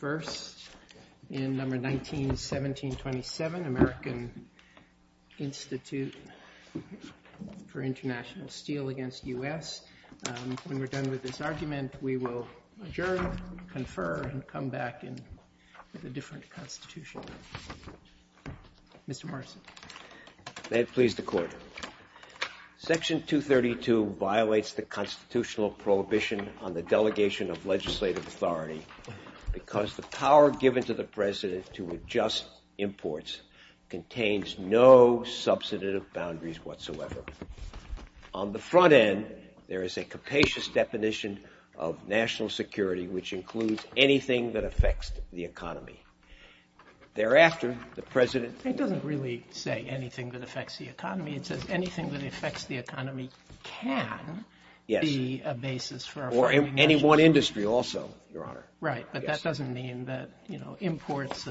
First, in No. 191727, American Institute for Int'l Steel v. U.S., when we're done with this argument, we will adjourn, confer, and come back with a different Constitution. Mr. Morrison. May it please the Court. Section 232 violates the constitutional prohibition on the delegation of legislative authority because the power given to the President to adjust imports contains no substantive boundaries whatsoever. On the front end, there is a capacious definition of national security which includes anything that affects the economy. Thereafter, the President... Anything that affects the economy can be a basis for... Or any one industry also, Your Honor. Right, but that doesn't mean that imports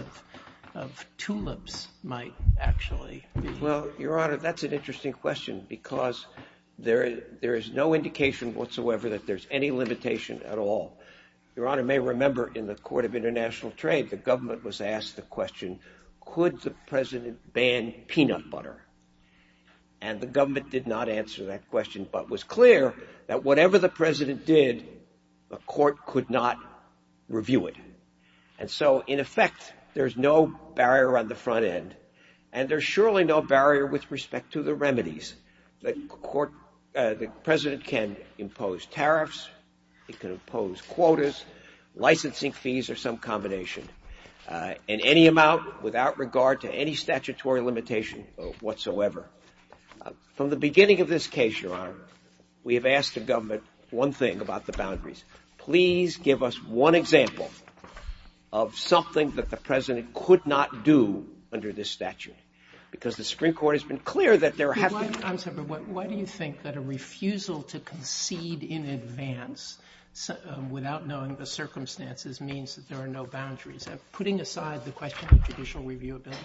of tulips might actually... Well, Your Honor, that's an interesting question because there is no indication whatsoever that there's any limitation at all. Your Honor may remember in the Court of International Trade the government was asked the question, could the President ban peanut butter? And the government did not answer that question but was clear that whatever the President did, the Court could not review it. And so, in effect, there's no barrier on the front end. And there's surely no barrier with respect to the remedies. The President can impose tariffs. He can impose quotas, licensing fees or some combination in any amount without regard to any statutory limitation whatsoever. From the beginning of this case, Your Honor, we have asked the government one thing about the boundaries. Please give us one example of something that the President could not do under this statute because the Supreme Court has been clear that there have been... I'm sorry, but why do you think that a refusal to concede in advance without knowing the circumstances means that there are no boundaries? Putting aside the question of judicial reviewability.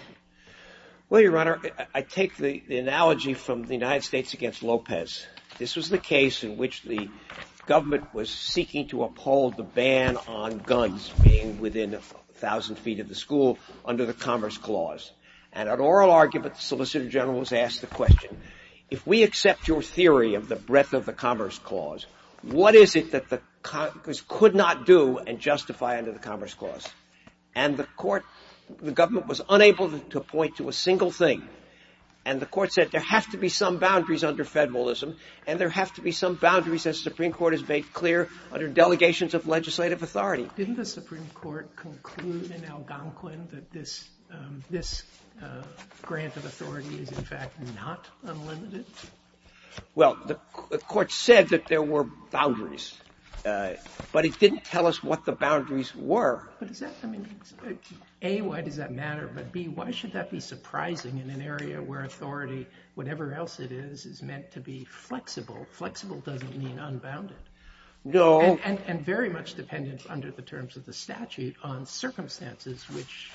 Well, Your Honor, I take the analogy from the United States against Lopez. This was the case in which the government was seeking to uphold the ban on guns being within 1,000 feet of the school under the Commerce Clause. And an oral argument, the Solicitor General was asked the question, if we accept your theory of the breadth of the Commerce Clause, what is it that Congress could not do and justify under the Commerce Clause? And the Court, the government was unable to point to a single thing. And the Court said there have to be some boundaries under federalism and there have to be some boundaries that the Supreme Court has made clear under delegations of legislative authority. Didn't the Supreme Court conclude in Algonquin that this grant of authority is in fact not unlimited? Well, the Court said that there were boundaries, but it didn't tell us what the boundaries were. But is that, I mean, A, why does that matter, but B, why should that be surprising in an area where authority, whatever else it is, is meant to be flexible? Flexible doesn't mean unbounded. No. And very much dependent under the terms of the statute on circumstances which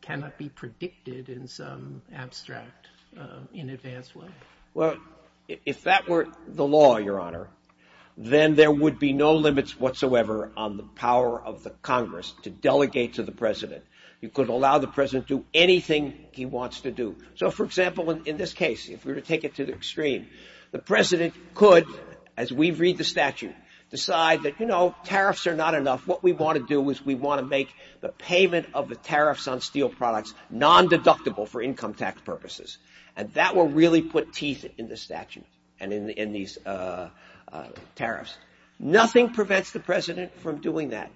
cannot be predicted in some abstract, in advance way. Well, if that were the law, Your Honor, then there would be no limits whatsoever on the power of the Congress to delegate to the President. You could allow the President to do anything he wants to do. So, for example, in this case, if we were to take it to the extreme, the President could, as we read the statute, decide that, you know, tariffs are not enough. What we want to do is we want to make the payment of the tariffs on steel products non-deductible for income tax purposes. And that will really put teeth in the statute and in these tariffs. Nothing prevents the President from doing that.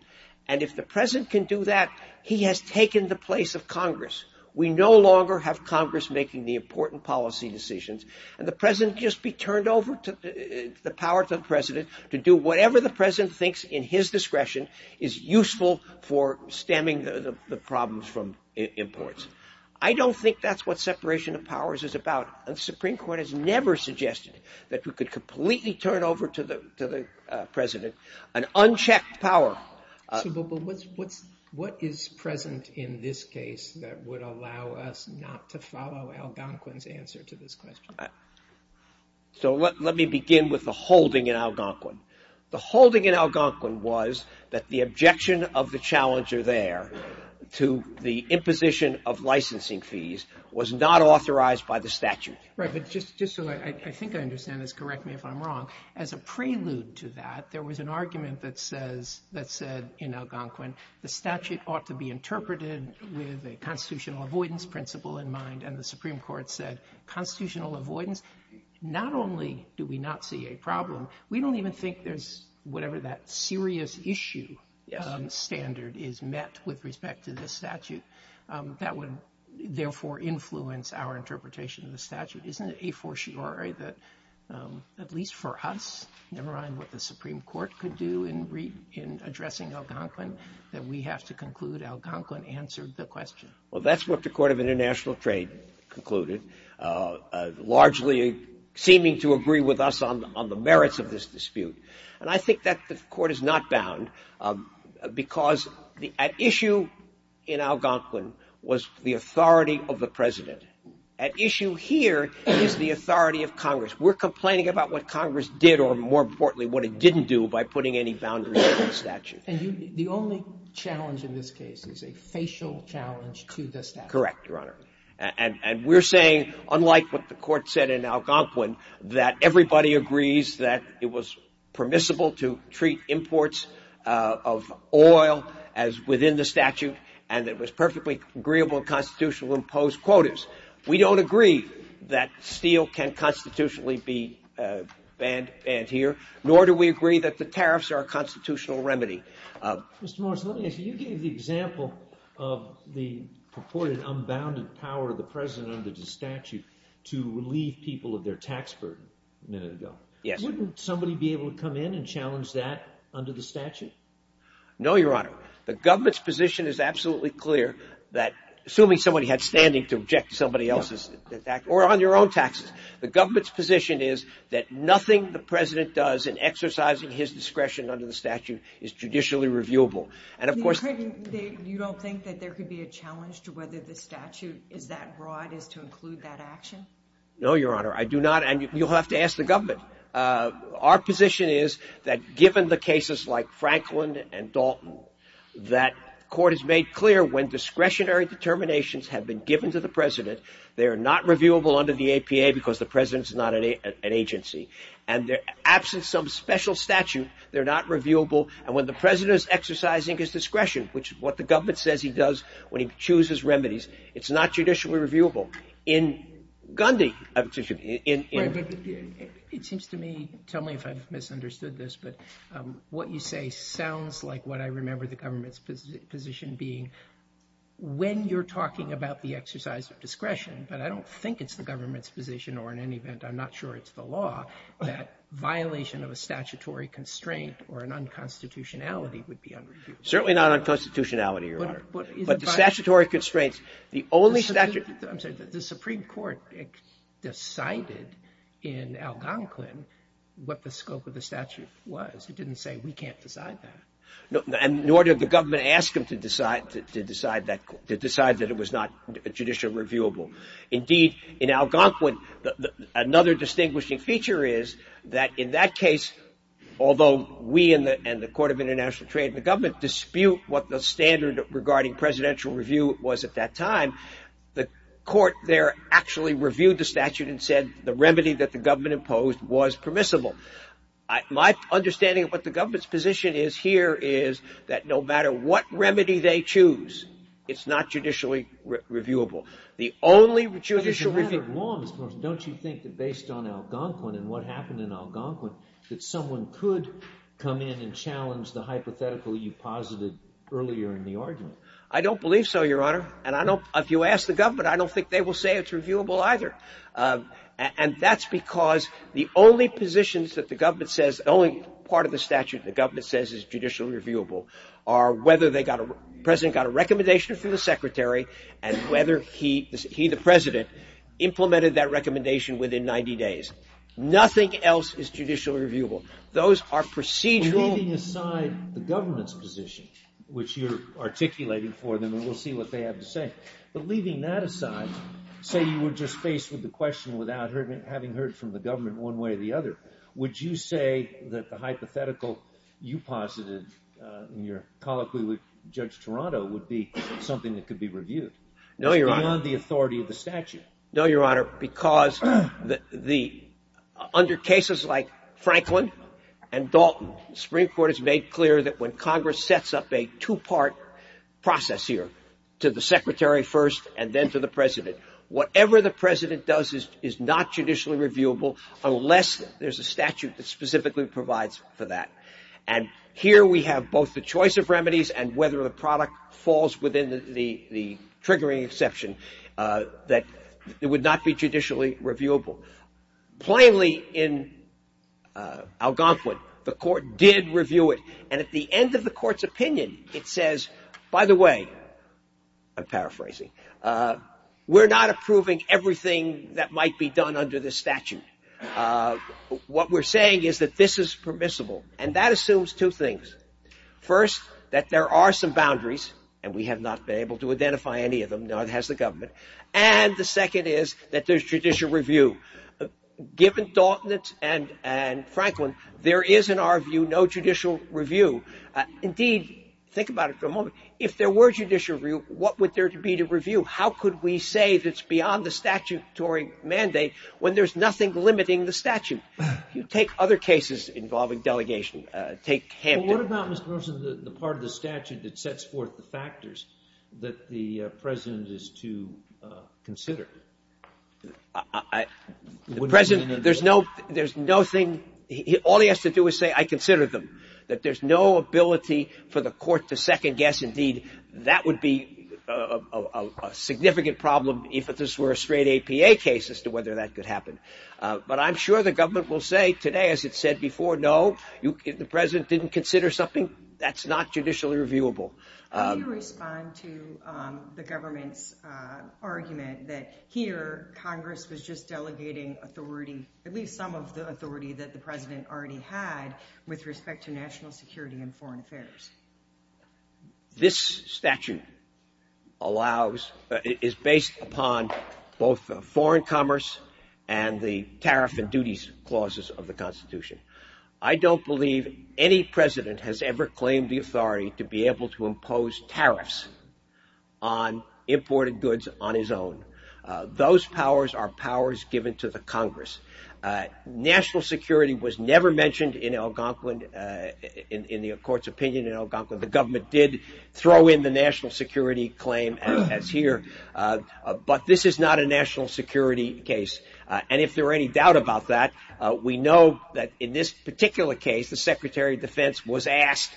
And if the President can do that, he has taken the place of Congress. We no longer have Congress making the important policy decisions. And the President can just be turned over the power to the President to do whatever the President thinks in his discretion is useful for stemming the problems from imports. I don't think that's what separation of powers is about. The Supreme Court has never suggested that we could completely turn over to the President an unchecked power. But what is present in this case that would allow us not to follow Algonquin's answer to this question? So let me begin with the holding in Algonquin. The holding in Algonquin was that the objection of the challenger there to the imposition of licensing fees was not authorized by the statute. Right, but just so I think I understand this, correct me if I'm wrong, as a prelude to that, there was an argument that said in Algonquin, the statute ought to be interpreted with a constitutional avoidance principle in mind. And the Supreme Court said constitutional avoidance, not only do we not see a problem, we don't even think there's whatever that serious issue standard is met with respect to this statute. That would therefore influence our interpretation of the statute. Isn't it a fortiori that at least for us, never mind what the Supreme Court could do in addressing Algonquin, that we have to conclude Algonquin answered the question? Well, that's what the Court of International Trade concluded, largely seeming to agree with us on the merits of this dispute. And I think that the Court is not bound because at issue in Algonquin was the authority of the President. At issue here is the authority of Congress. We're complaining about what Congress did or, more importantly, what it didn't do by putting any boundaries on the statute. And the only challenge in this case is a facial challenge to the statute. Correct, Your Honor. And we're saying, unlike what the Court said in Algonquin, that everybody agrees that it was permissible to treat imports of oil as within the statute and that it was perfectly agreeable in constitutional imposed quotas. We don't agree that steel can constitutionally be banned here, nor do we agree that the tariffs are a constitutional remedy. Mr. Morris, let me ask you, you gave the example of the purported unbounded power of the President under the statute to relieve people of their tax burden a minute ago. Yes. Wouldn't somebody be able to come in and challenge that under the statute? No, Your Honor. The government's position is absolutely clear that, assuming somebody had standing to object to somebody else's tax or on your own taxes, the government's position is that nothing the President does in exercising his discretion under the statute is judicially reviewable. And, of course, You don't think that there could be a challenge to whether the statute is that broad as to include that action? No, Your Honor, I do not. And you'll have to ask the government. Our position is that, given the cases like Franklin and Dalton, that court has made clear when discretionary determinations have been given to the President, they are not reviewable under the APA because the President is not an agency. And absent some special statute, they're not reviewable. And when the President is exercising his discretion, which is what the government says he does when he chooses remedies, it's not judicially reviewable. It seems to me, tell me if I've misunderstood this, but what you say sounds like what I remember the government's position being. When you're talking about the exercise of discretion, but I don't think it's the government's position or, in any event, I'm not sure it's the law, that violation of a statutory constraint or an unconstitutionality would be unreviewable. Certainly not unconstitutionality, Your Honor. But the statutory constraints, the only statute I'm sorry, the Supreme Court decided in Algonquin what the scope of the statute was. It didn't say we can't decide that. And nor did the government ask them to decide that it was not judicially reviewable. Indeed, in Algonquin, another distinguishing feature is that in that case, although we and the Court of International Trade and the government dispute what the standard regarding presidential review was at that time, the court there actually reviewed the statute and said the remedy that the government imposed was permissible. My understanding of what the government's position is here is that no matter what remedy they choose, it's not judicially reviewable. The only judicial review... But it's a matter of law, Mr. Morris. Don't you think that based on Algonquin and what happened in Algonquin that someone could come in and challenge the hypothetical you posited earlier in the argument? I don't believe so, Your Honor. And if you ask the government, I don't think they will say it's reviewable either. And that's because the only positions that the government says, the only part of the statute the government says is judicially reviewable are whether the president got a recommendation from the secretary and whether he, the president, implemented that recommendation within 90 days. Nothing else is judicially reviewable. Those are procedural... Leaving aside the government's position, which you're articulating for them, and we'll see what they have to say, but leaving that aside, say you were just faced with the question without having heard from the government one way or the other, would you say that the hypothetical you posited in your colloquy with Judge Toronto would be something that could be reviewed? No, Your Honor. It's beyond the authority of the statute. No, Your Honor, because under cases like Franklin and Dalton, the Supreme Court has made clear that when Congress sets up a two-part process here, to the secretary first and then to the president, whatever the president does is not judicially reviewable unless there's a statute that specifically provides for that. And here we have both the choice of remedies and whether the product falls within the triggering exception that it would not be judicially reviewable. Plainly in Algonquin, the court did review it, and at the end of the court's opinion, it says, by the way, I'm paraphrasing, we're not approving everything that might be done under this statute. What we're saying is that this is permissible, and that assumes two things. First, that there are some boundaries, and we have not been able to identify any of them, nor has the government, and the second is that there's judicial review. Given Dalton and Franklin, there is, in our view, no judicial review. Indeed, think about it for a moment. If there were judicial review, what would there be to review? How could we say that it's beyond the statutory mandate when there's nothing limiting the statute? You take other cases involving delegation, take Hampton. Well, what about, Mr. Nelson, the part of the statute that sets forth the factors that the president is to consider? The president, there's no thing. All he has to do is say, I consider them, that there's no ability for the court to second guess. Indeed, that would be a significant problem if this were a straight APA case as to whether that could happen. But I'm sure the government will say today, as it said before, no, if the president didn't consider something, that's not judicially reviewable. How do you respond to the government's argument that here Congress was just delegating authority, at least some of the authority that the president already had with respect to national security and foreign affairs? This statute is based upon both foreign commerce and the tariff and duties clauses of the Constitution. I don't believe any president has ever claimed the authority to be able to impose tariffs on imported goods on his own. Those powers are powers given to the Congress. National security was never mentioned in Algonquin, in the court's opinion in Algonquin. The government did throw in the national security claim as here. But this is not a national security case. And if there are any doubt about that, we know that in this particular case, the Secretary of Defense was asked,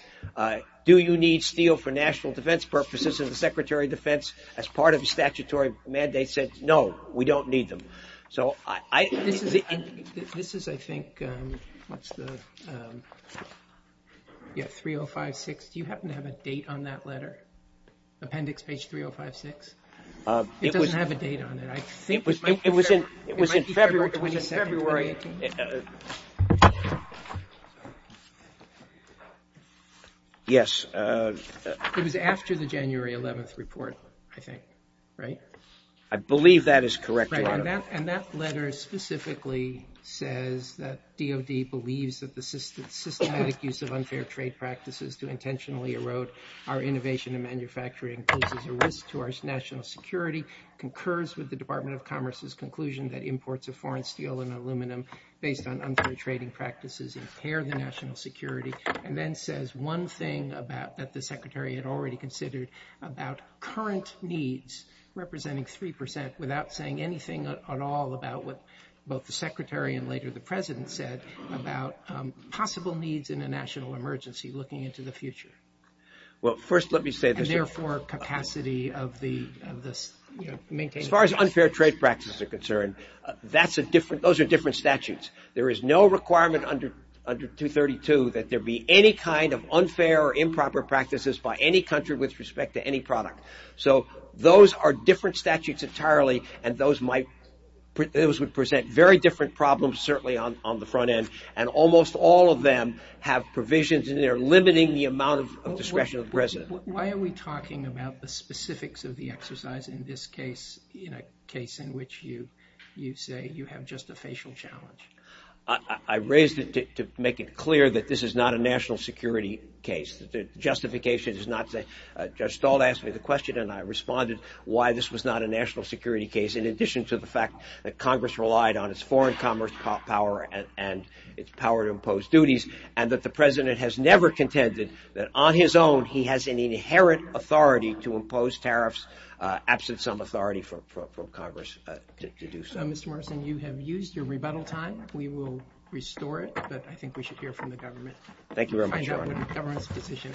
do you need steel for national defense purposes? And the Secretary of Defense, as part of the statutory mandate, said, no, we don't need them. So this is, I think, 3056. Do you happen to have a date on that letter, appendix page 3056? It doesn't have a date on it. It was in February. Yes. It was after the January 11th report, I think, right? I believe that is correct. And that letter specifically says that DOD believes that the systematic use of unfair trade practices to intentionally erode our innovation and manufacturing poses a risk to our national security, concurs with the Department of Commerce's conclusion that imports of foreign steel and aluminum based on unfair trading practices impair the national security, and then says one thing that the Secretary had already considered about current needs, representing 3 percent, without saying anything at all about what both the Secretary and later the President said about possible needs in a national emergency looking into the future. Well, first let me say this. And, therefore, capacity of the maintaining. As far as unfair trade practices are concerned, those are different statutes. There is no requirement under 232 that there be any kind of unfair or improper practices by any country with respect to any product. So those are different statutes entirely, and those would present very different problems, certainly on the front end, and almost all of them have provisions, and they're limiting the amount of discretion of the President. Why are we talking about the specifics of the exercise in this case, in a case in which you say you have just a facial challenge? I raised it to make it clear that this is not a national security case. The justification does not say. Judge Stolt asked me the question, and I responded why this was not a national security case, in addition to the fact that Congress relied on its foreign commerce power and its power to impose duties, and that the President has never contended that, on his own, he has an inherent authority to impose tariffs absent some authority from Congress to do so. Mr. Morrison, you have used your rebuttal time. We will restore it, but I think we should hear from the government. Thank you very much, Your Honor. Your Honor, the government's position.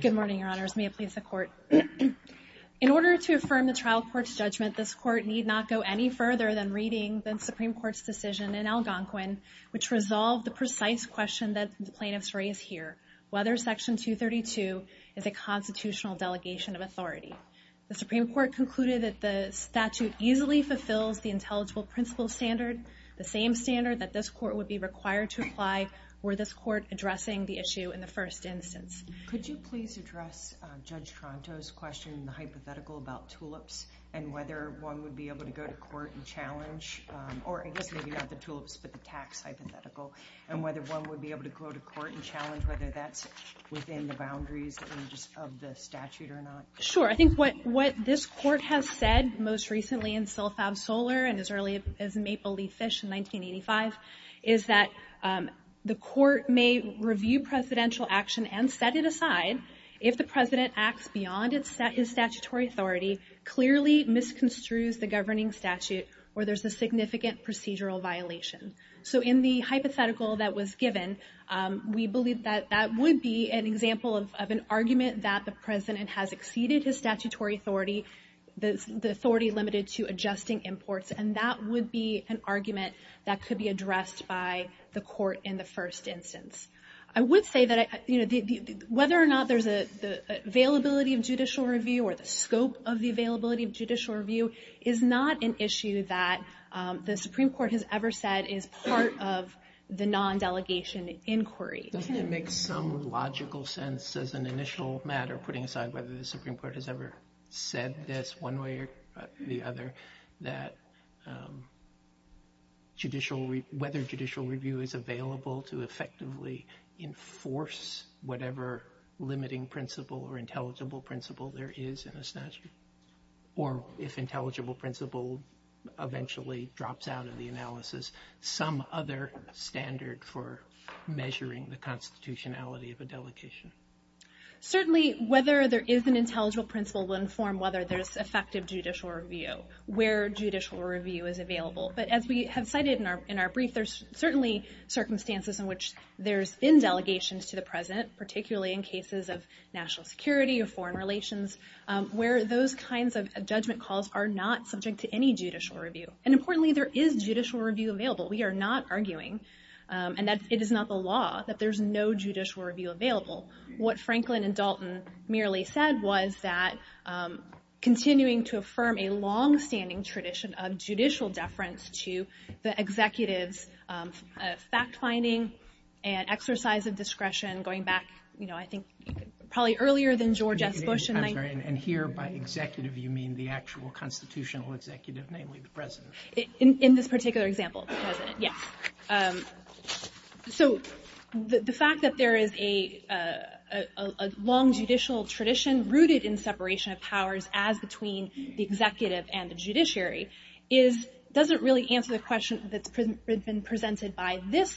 Good morning, Your Honors. May it please the Court. In order to affirm the trial court's judgment, this Court need not go any further than reading the Supreme Court's decision in Algonquin, which resolved the precise question that the plaintiffs raise here, whether Section 232 is a constitutional delegation of authority. The Supreme Court concluded that the statute easily fulfills the intelligible principle standard, the same standard that this Court would be required to apply were this Court addressing the issue in the first instance. Could you please address Judge Tronto's question, the hypothetical about tulips, and whether one would be able to go to court and challenge, or I guess maybe not the tulips, but the tax hypothetical, and whether one would be able to go to court and challenge whether that's within the boundaries of the statute or not? Sure. I think what this Court has said most recently in Sil-Fab-Solar, and as early as Maple Leaf Fish in 1985, is that the Court may review presidential action and set it aside if the President acts beyond his statutory authority, clearly misconstrues the governing statute, or there's a significant procedural violation. So in the hypothetical that was given, we believe that that would be an example of an argument that the President has exceeded his statutory authority, the authority limited to adjusting imports, and that would be an argument that could be addressed by the Court in the first instance. I would say that whether or not there's an availability of judicial review, or the scope of the availability of judicial review, is not an issue that the Supreme Court has ever said is part of the non-delegation inquiry. Doesn't it make some logical sense as an initial matter, putting aside whether the Supreme Court has ever said this one way or the other, that whether judicial review is available to effectively enforce whatever limiting principle or intelligible principle there is in the statute? Or if intelligible principle eventually drops out of the analysis, some other standard for measuring the constitutionality of a delegation? Certainly whether there is an intelligible principle will inform whether there's effective judicial review, where judicial review is available. But as we have cited in our brief, there's certainly circumstances in which there's been delegations to the President, particularly in cases of national security or foreign relations, where those kinds of judgment calls are not subject to any judicial review. And importantly, there is judicial review available. We are not arguing, and it is not the law, that there's no judicial review available. What Franklin and Dalton merely said was that continuing to affirm a long-standing tradition of judicial deference to the executives, fact-finding and exercise of discretion, going back, I think, probably earlier than George S. Bush. And here, by executive, you mean the actual constitutional executive, namely the President. In this particular example, the President, yes. So the fact that there is a long judicial tradition rooted in separation of powers as between the executive and the judiciary doesn't really answer the question that's been presented by this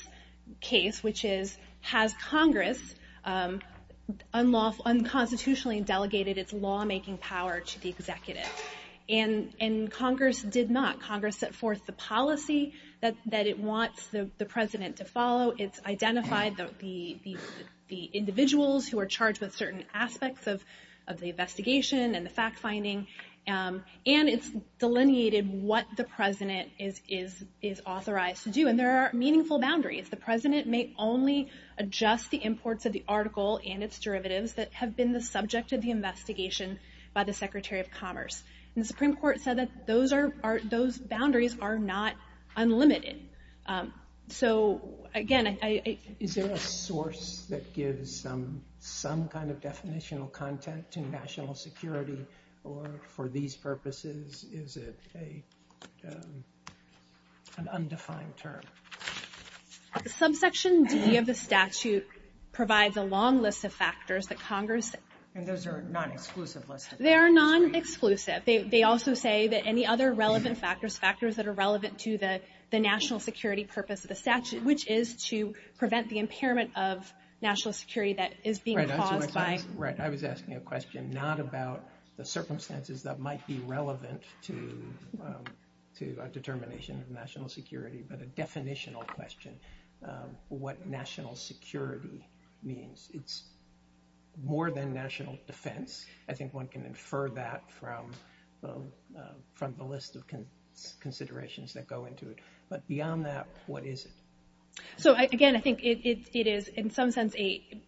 case, which is, has Congress unconstitutionally delegated its lawmaking power to the executive? And Congress did not. Congress set forth the policy that it wants the President to follow. It's identified the individuals who are charged with certain aspects of the investigation and the fact-finding. And it's delineated what the President is authorized to do. And there are meaningful boundaries. The President may only adjust the imports of the article and its derivatives that have been the subject of the investigation by the Secretary of Commerce. And the Supreme Court said that those boundaries are not unlimited. So, again, I... Is there a source that gives some kind of definitional content to national security? Or for these purposes, is it an undefined term? Subsection D of the statute provides a long list of factors that Congress... And those are non-exclusive lists? They are non-exclusive. They also say that any other relevant factors, factors that are relevant to the national security purpose of the statute, which is to prevent the impairment of national security that is being caused by... Right, I was asking a question not about the circumstances that might be relevant to a determination of national security, but a definitional question, what national security means. It's more than national defense. I think one can infer that from the list of considerations that go into it. But beyond that, what is it? So, again, I think it is, in some sense,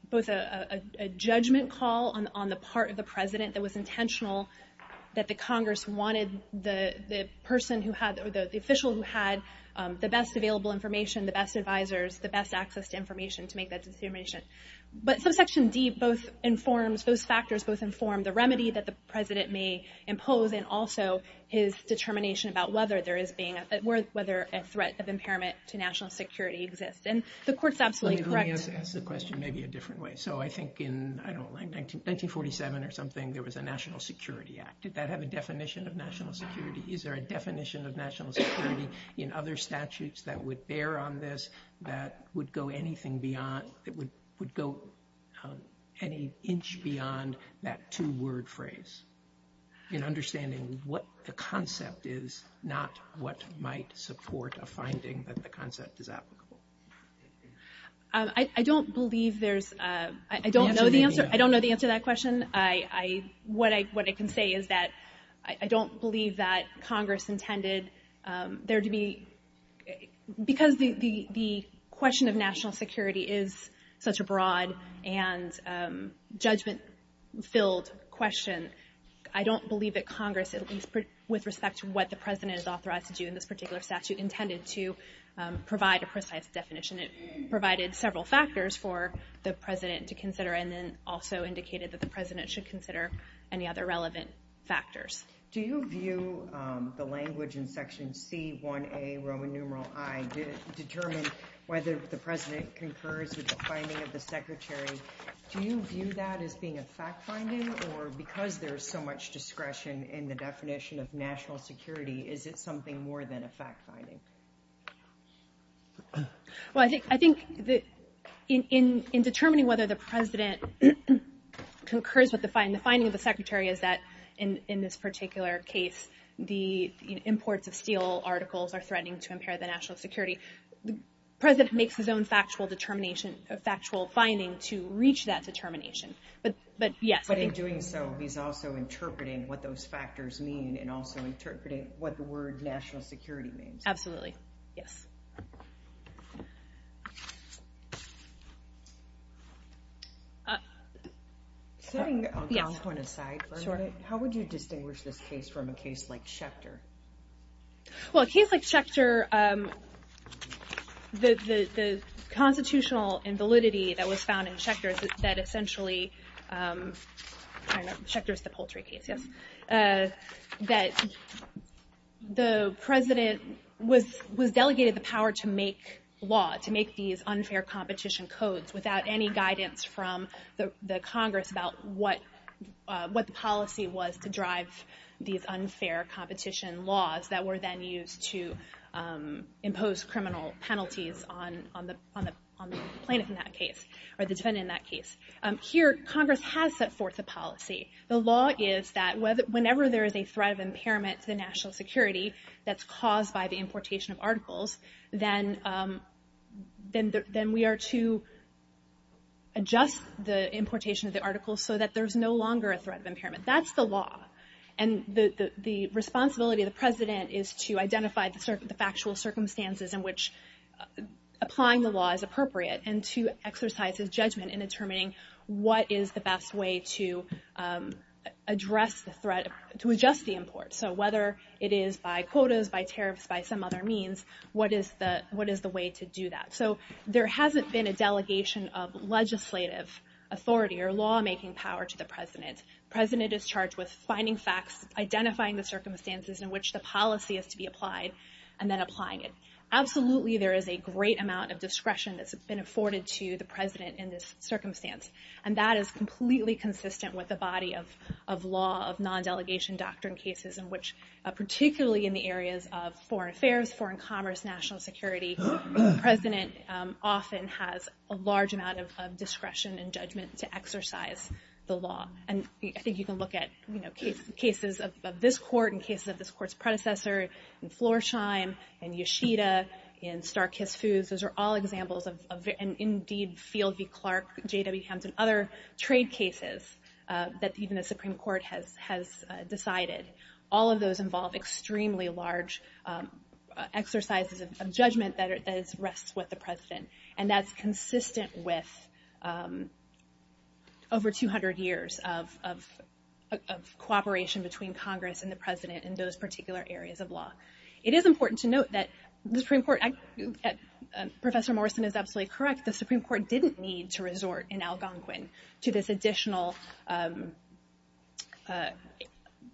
both a judgment call on the part of the President that was intentional that the Congress wanted the person who had, or the official who had the best available information, the best advisors, the best access to information to make that determination. But subsection D both informs, those factors both inform, the remedy that the President may impose, and also his determination about whether there is being a threat, whether a threat of impairment to national security exists. And the Court's absolutely correct. Let me ask the question maybe a different way. So I think in, I don't know, 1947 or something, there was a National Security Act. Did that have a definition of national security? Is there a definition of national security in other statutes that would bear on this, that would go anything beyond, that would go any inch beyond that two-word phrase in understanding what the concept is, not what might support a finding that the concept is applicable? I don't believe there's, I don't know the answer to that question. What I can say is that I don't believe that Congress intended there to be, because the question of national security is such a broad and judgment-filled question, I don't believe that Congress, at least with respect to what the President has authorized to do in this particular statute, intended to provide a precise definition. It provided several factors for the President to consider and then also indicated that the President should consider any other relevant factors. Do you view the language in Section C1A, Roman numeral I, determined whether the President concurs with the finding of the Secretary? Do you view that as being a fact-finding, or because there is so much discretion in the definition of national security, is it something more than a fact-finding? Well, I think in determining whether the President concurs with the finding of the Secretary is that, in this particular case, the imports of steel articles are threatening to impair the national security. The President makes his own factual determination, factual finding to reach that determination, but yes. But in doing so, he's also interpreting what those factors mean and also interpreting what the word national security means. Absolutely, yes. Setting Algonquin aside for a minute, how would you distinguish this case from a case like Schechter? Well, a case like Schechter, the constitutional invalidity that was found in Schechter that essentially, Schechter is the poultry case, yes, that the President was delegated the power to make law, to make these unfair competition codes without any guidance from the Congress about what the policy was to drive these unfair competition laws that were then used to impose criminal penalties on the plaintiff in that case, or the defendant in that case. Here, Congress has set forth a policy. The law is that whenever there is a threat of impairment to the national security that's caused by the importation of articles, then we are to adjust the importation of the articles so that there's no longer a threat of impairment. That's the law. And the responsibility of the President is to identify the factual circumstances in which applying the law is appropriate and to exercise his judgment in determining what is the best way to adjust the import. So whether it is by quotas, by tariffs, by some other means, what is the way to do that? So there hasn't been a delegation of legislative authority or lawmaking power to the President. The President is charged with finding facts, identifying the circumstances in which the policy is to be applied, and then applying it. Absolutely, there is a great amount of discretion that's been afforded to the President in this circumstance. And that is completely consistent with the body of law, of non-delegation doctrine cases in which, particularly in the areas of foreign affairs, foreign commerce, national security, the President often has a large amount of discretion and judgment to exercise the law. And I think you can look at cases of this Court and cases of this Court's predecessor, in Florsheim, in Yoshida, in Star-Kissed Foods. Those are all examples of, indeed, Field v. Clark, J.W. Hampton, other trade cases that even the Supreme Court has decided. All of those involve extremely large exercises of judgment that rests with the President. And that's consistent with over 200 years of cooperation between Congress and the President in those particular areas of law. It is important to note that the Supreme Court, Professor Morrison is absolutely correct, the Supreme Court didn't need to resort in Algonquin to this additional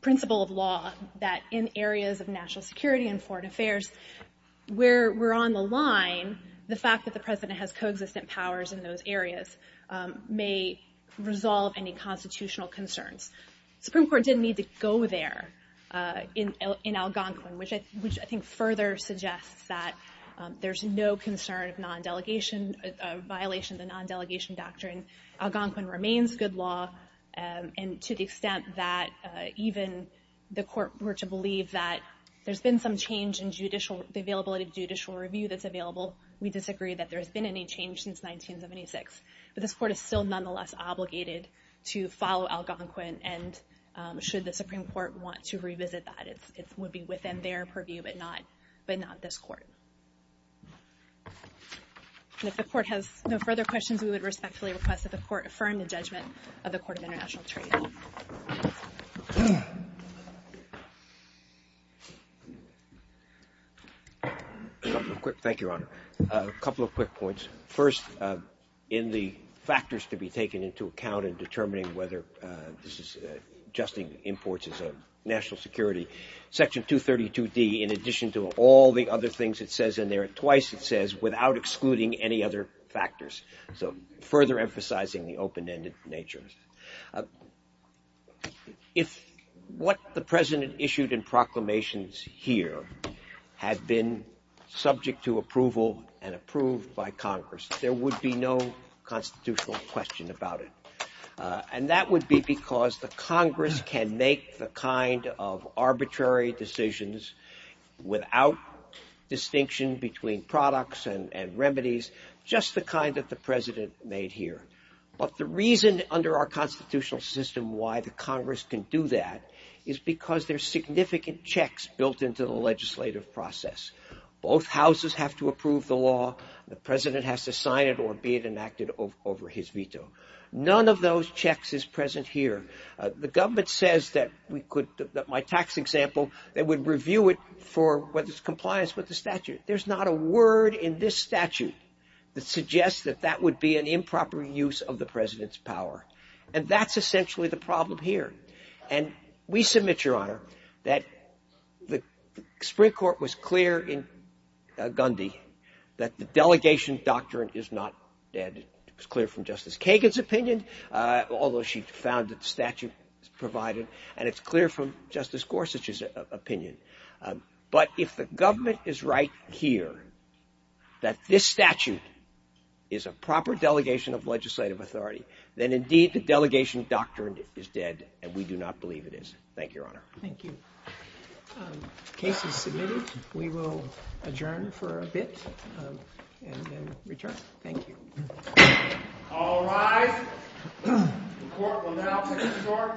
principle of law that in areas of national security and foreign affairs, where we're on the line, the fact that the President has co-existent powers in those areas may resolve any constitutional concerns. The Supreme Court didn't need to go there in Algonquin, which I think further suggests that there's no concern of violation of the non-delegation doctrine. Algonquin remains good law, and to the extent that even the Court were to believe that there's been some change in the availability of judicial review that's available, we disagree that there's been any change since 1976. But this Court is still nonetheless obligated to follow Algonquin, and should the Supreme Court want to revisit that, it would be within their purview, but not this Court. And if the Court has no further questions, we would respectfully request that the Court affirm the judgment of the Court of International Trade. Thank you, Your Honor. A couple of quick points. First, in the factors to be taken into account in determining whether this is adjusting imports as a national security, Section 232D, in addition to all the other things it says in there, twice it says, without excluding any other factors, so further emphasizing the open-ended nature. If what the President issued in proclamations here had been subject to approval and approved by Congress, there would be no constitutional question about it. And that would be because the Congress can make the kind of arbitrary decisions without distinction between products and remedies, just the kind that the President made here. But the reason under our constitutional system why the Congress can do that is because there are significant checks built into the legislative process. Both houses have to approve the law, the President has to sign it or be it enacted over his veto. None of those checks is present here. The government says that my tax example, they would review it for whether it's in compliance with the statute. There's not a word in this statute that suggests that that would be an improper use of the President's power. And that's essentially the problem here. And we submit, Your Honor, that the Supreme Court was clear in Gundy that the delegation doctrine is not dead. It was clear from Justice Kagan's opinion, although she found that the statute provided, and it's clear from Justice Gorsuch's opinion. But if the government is right here that this statute is a proper delegation of legislative authority, then indeed the delegation doctrine is dead and we do not believe it is. Thank you, Your Honor. Thank you. The case is submitted. We will adjourn for a bit and then return. Thank you. All rise. The court will now take a short recess.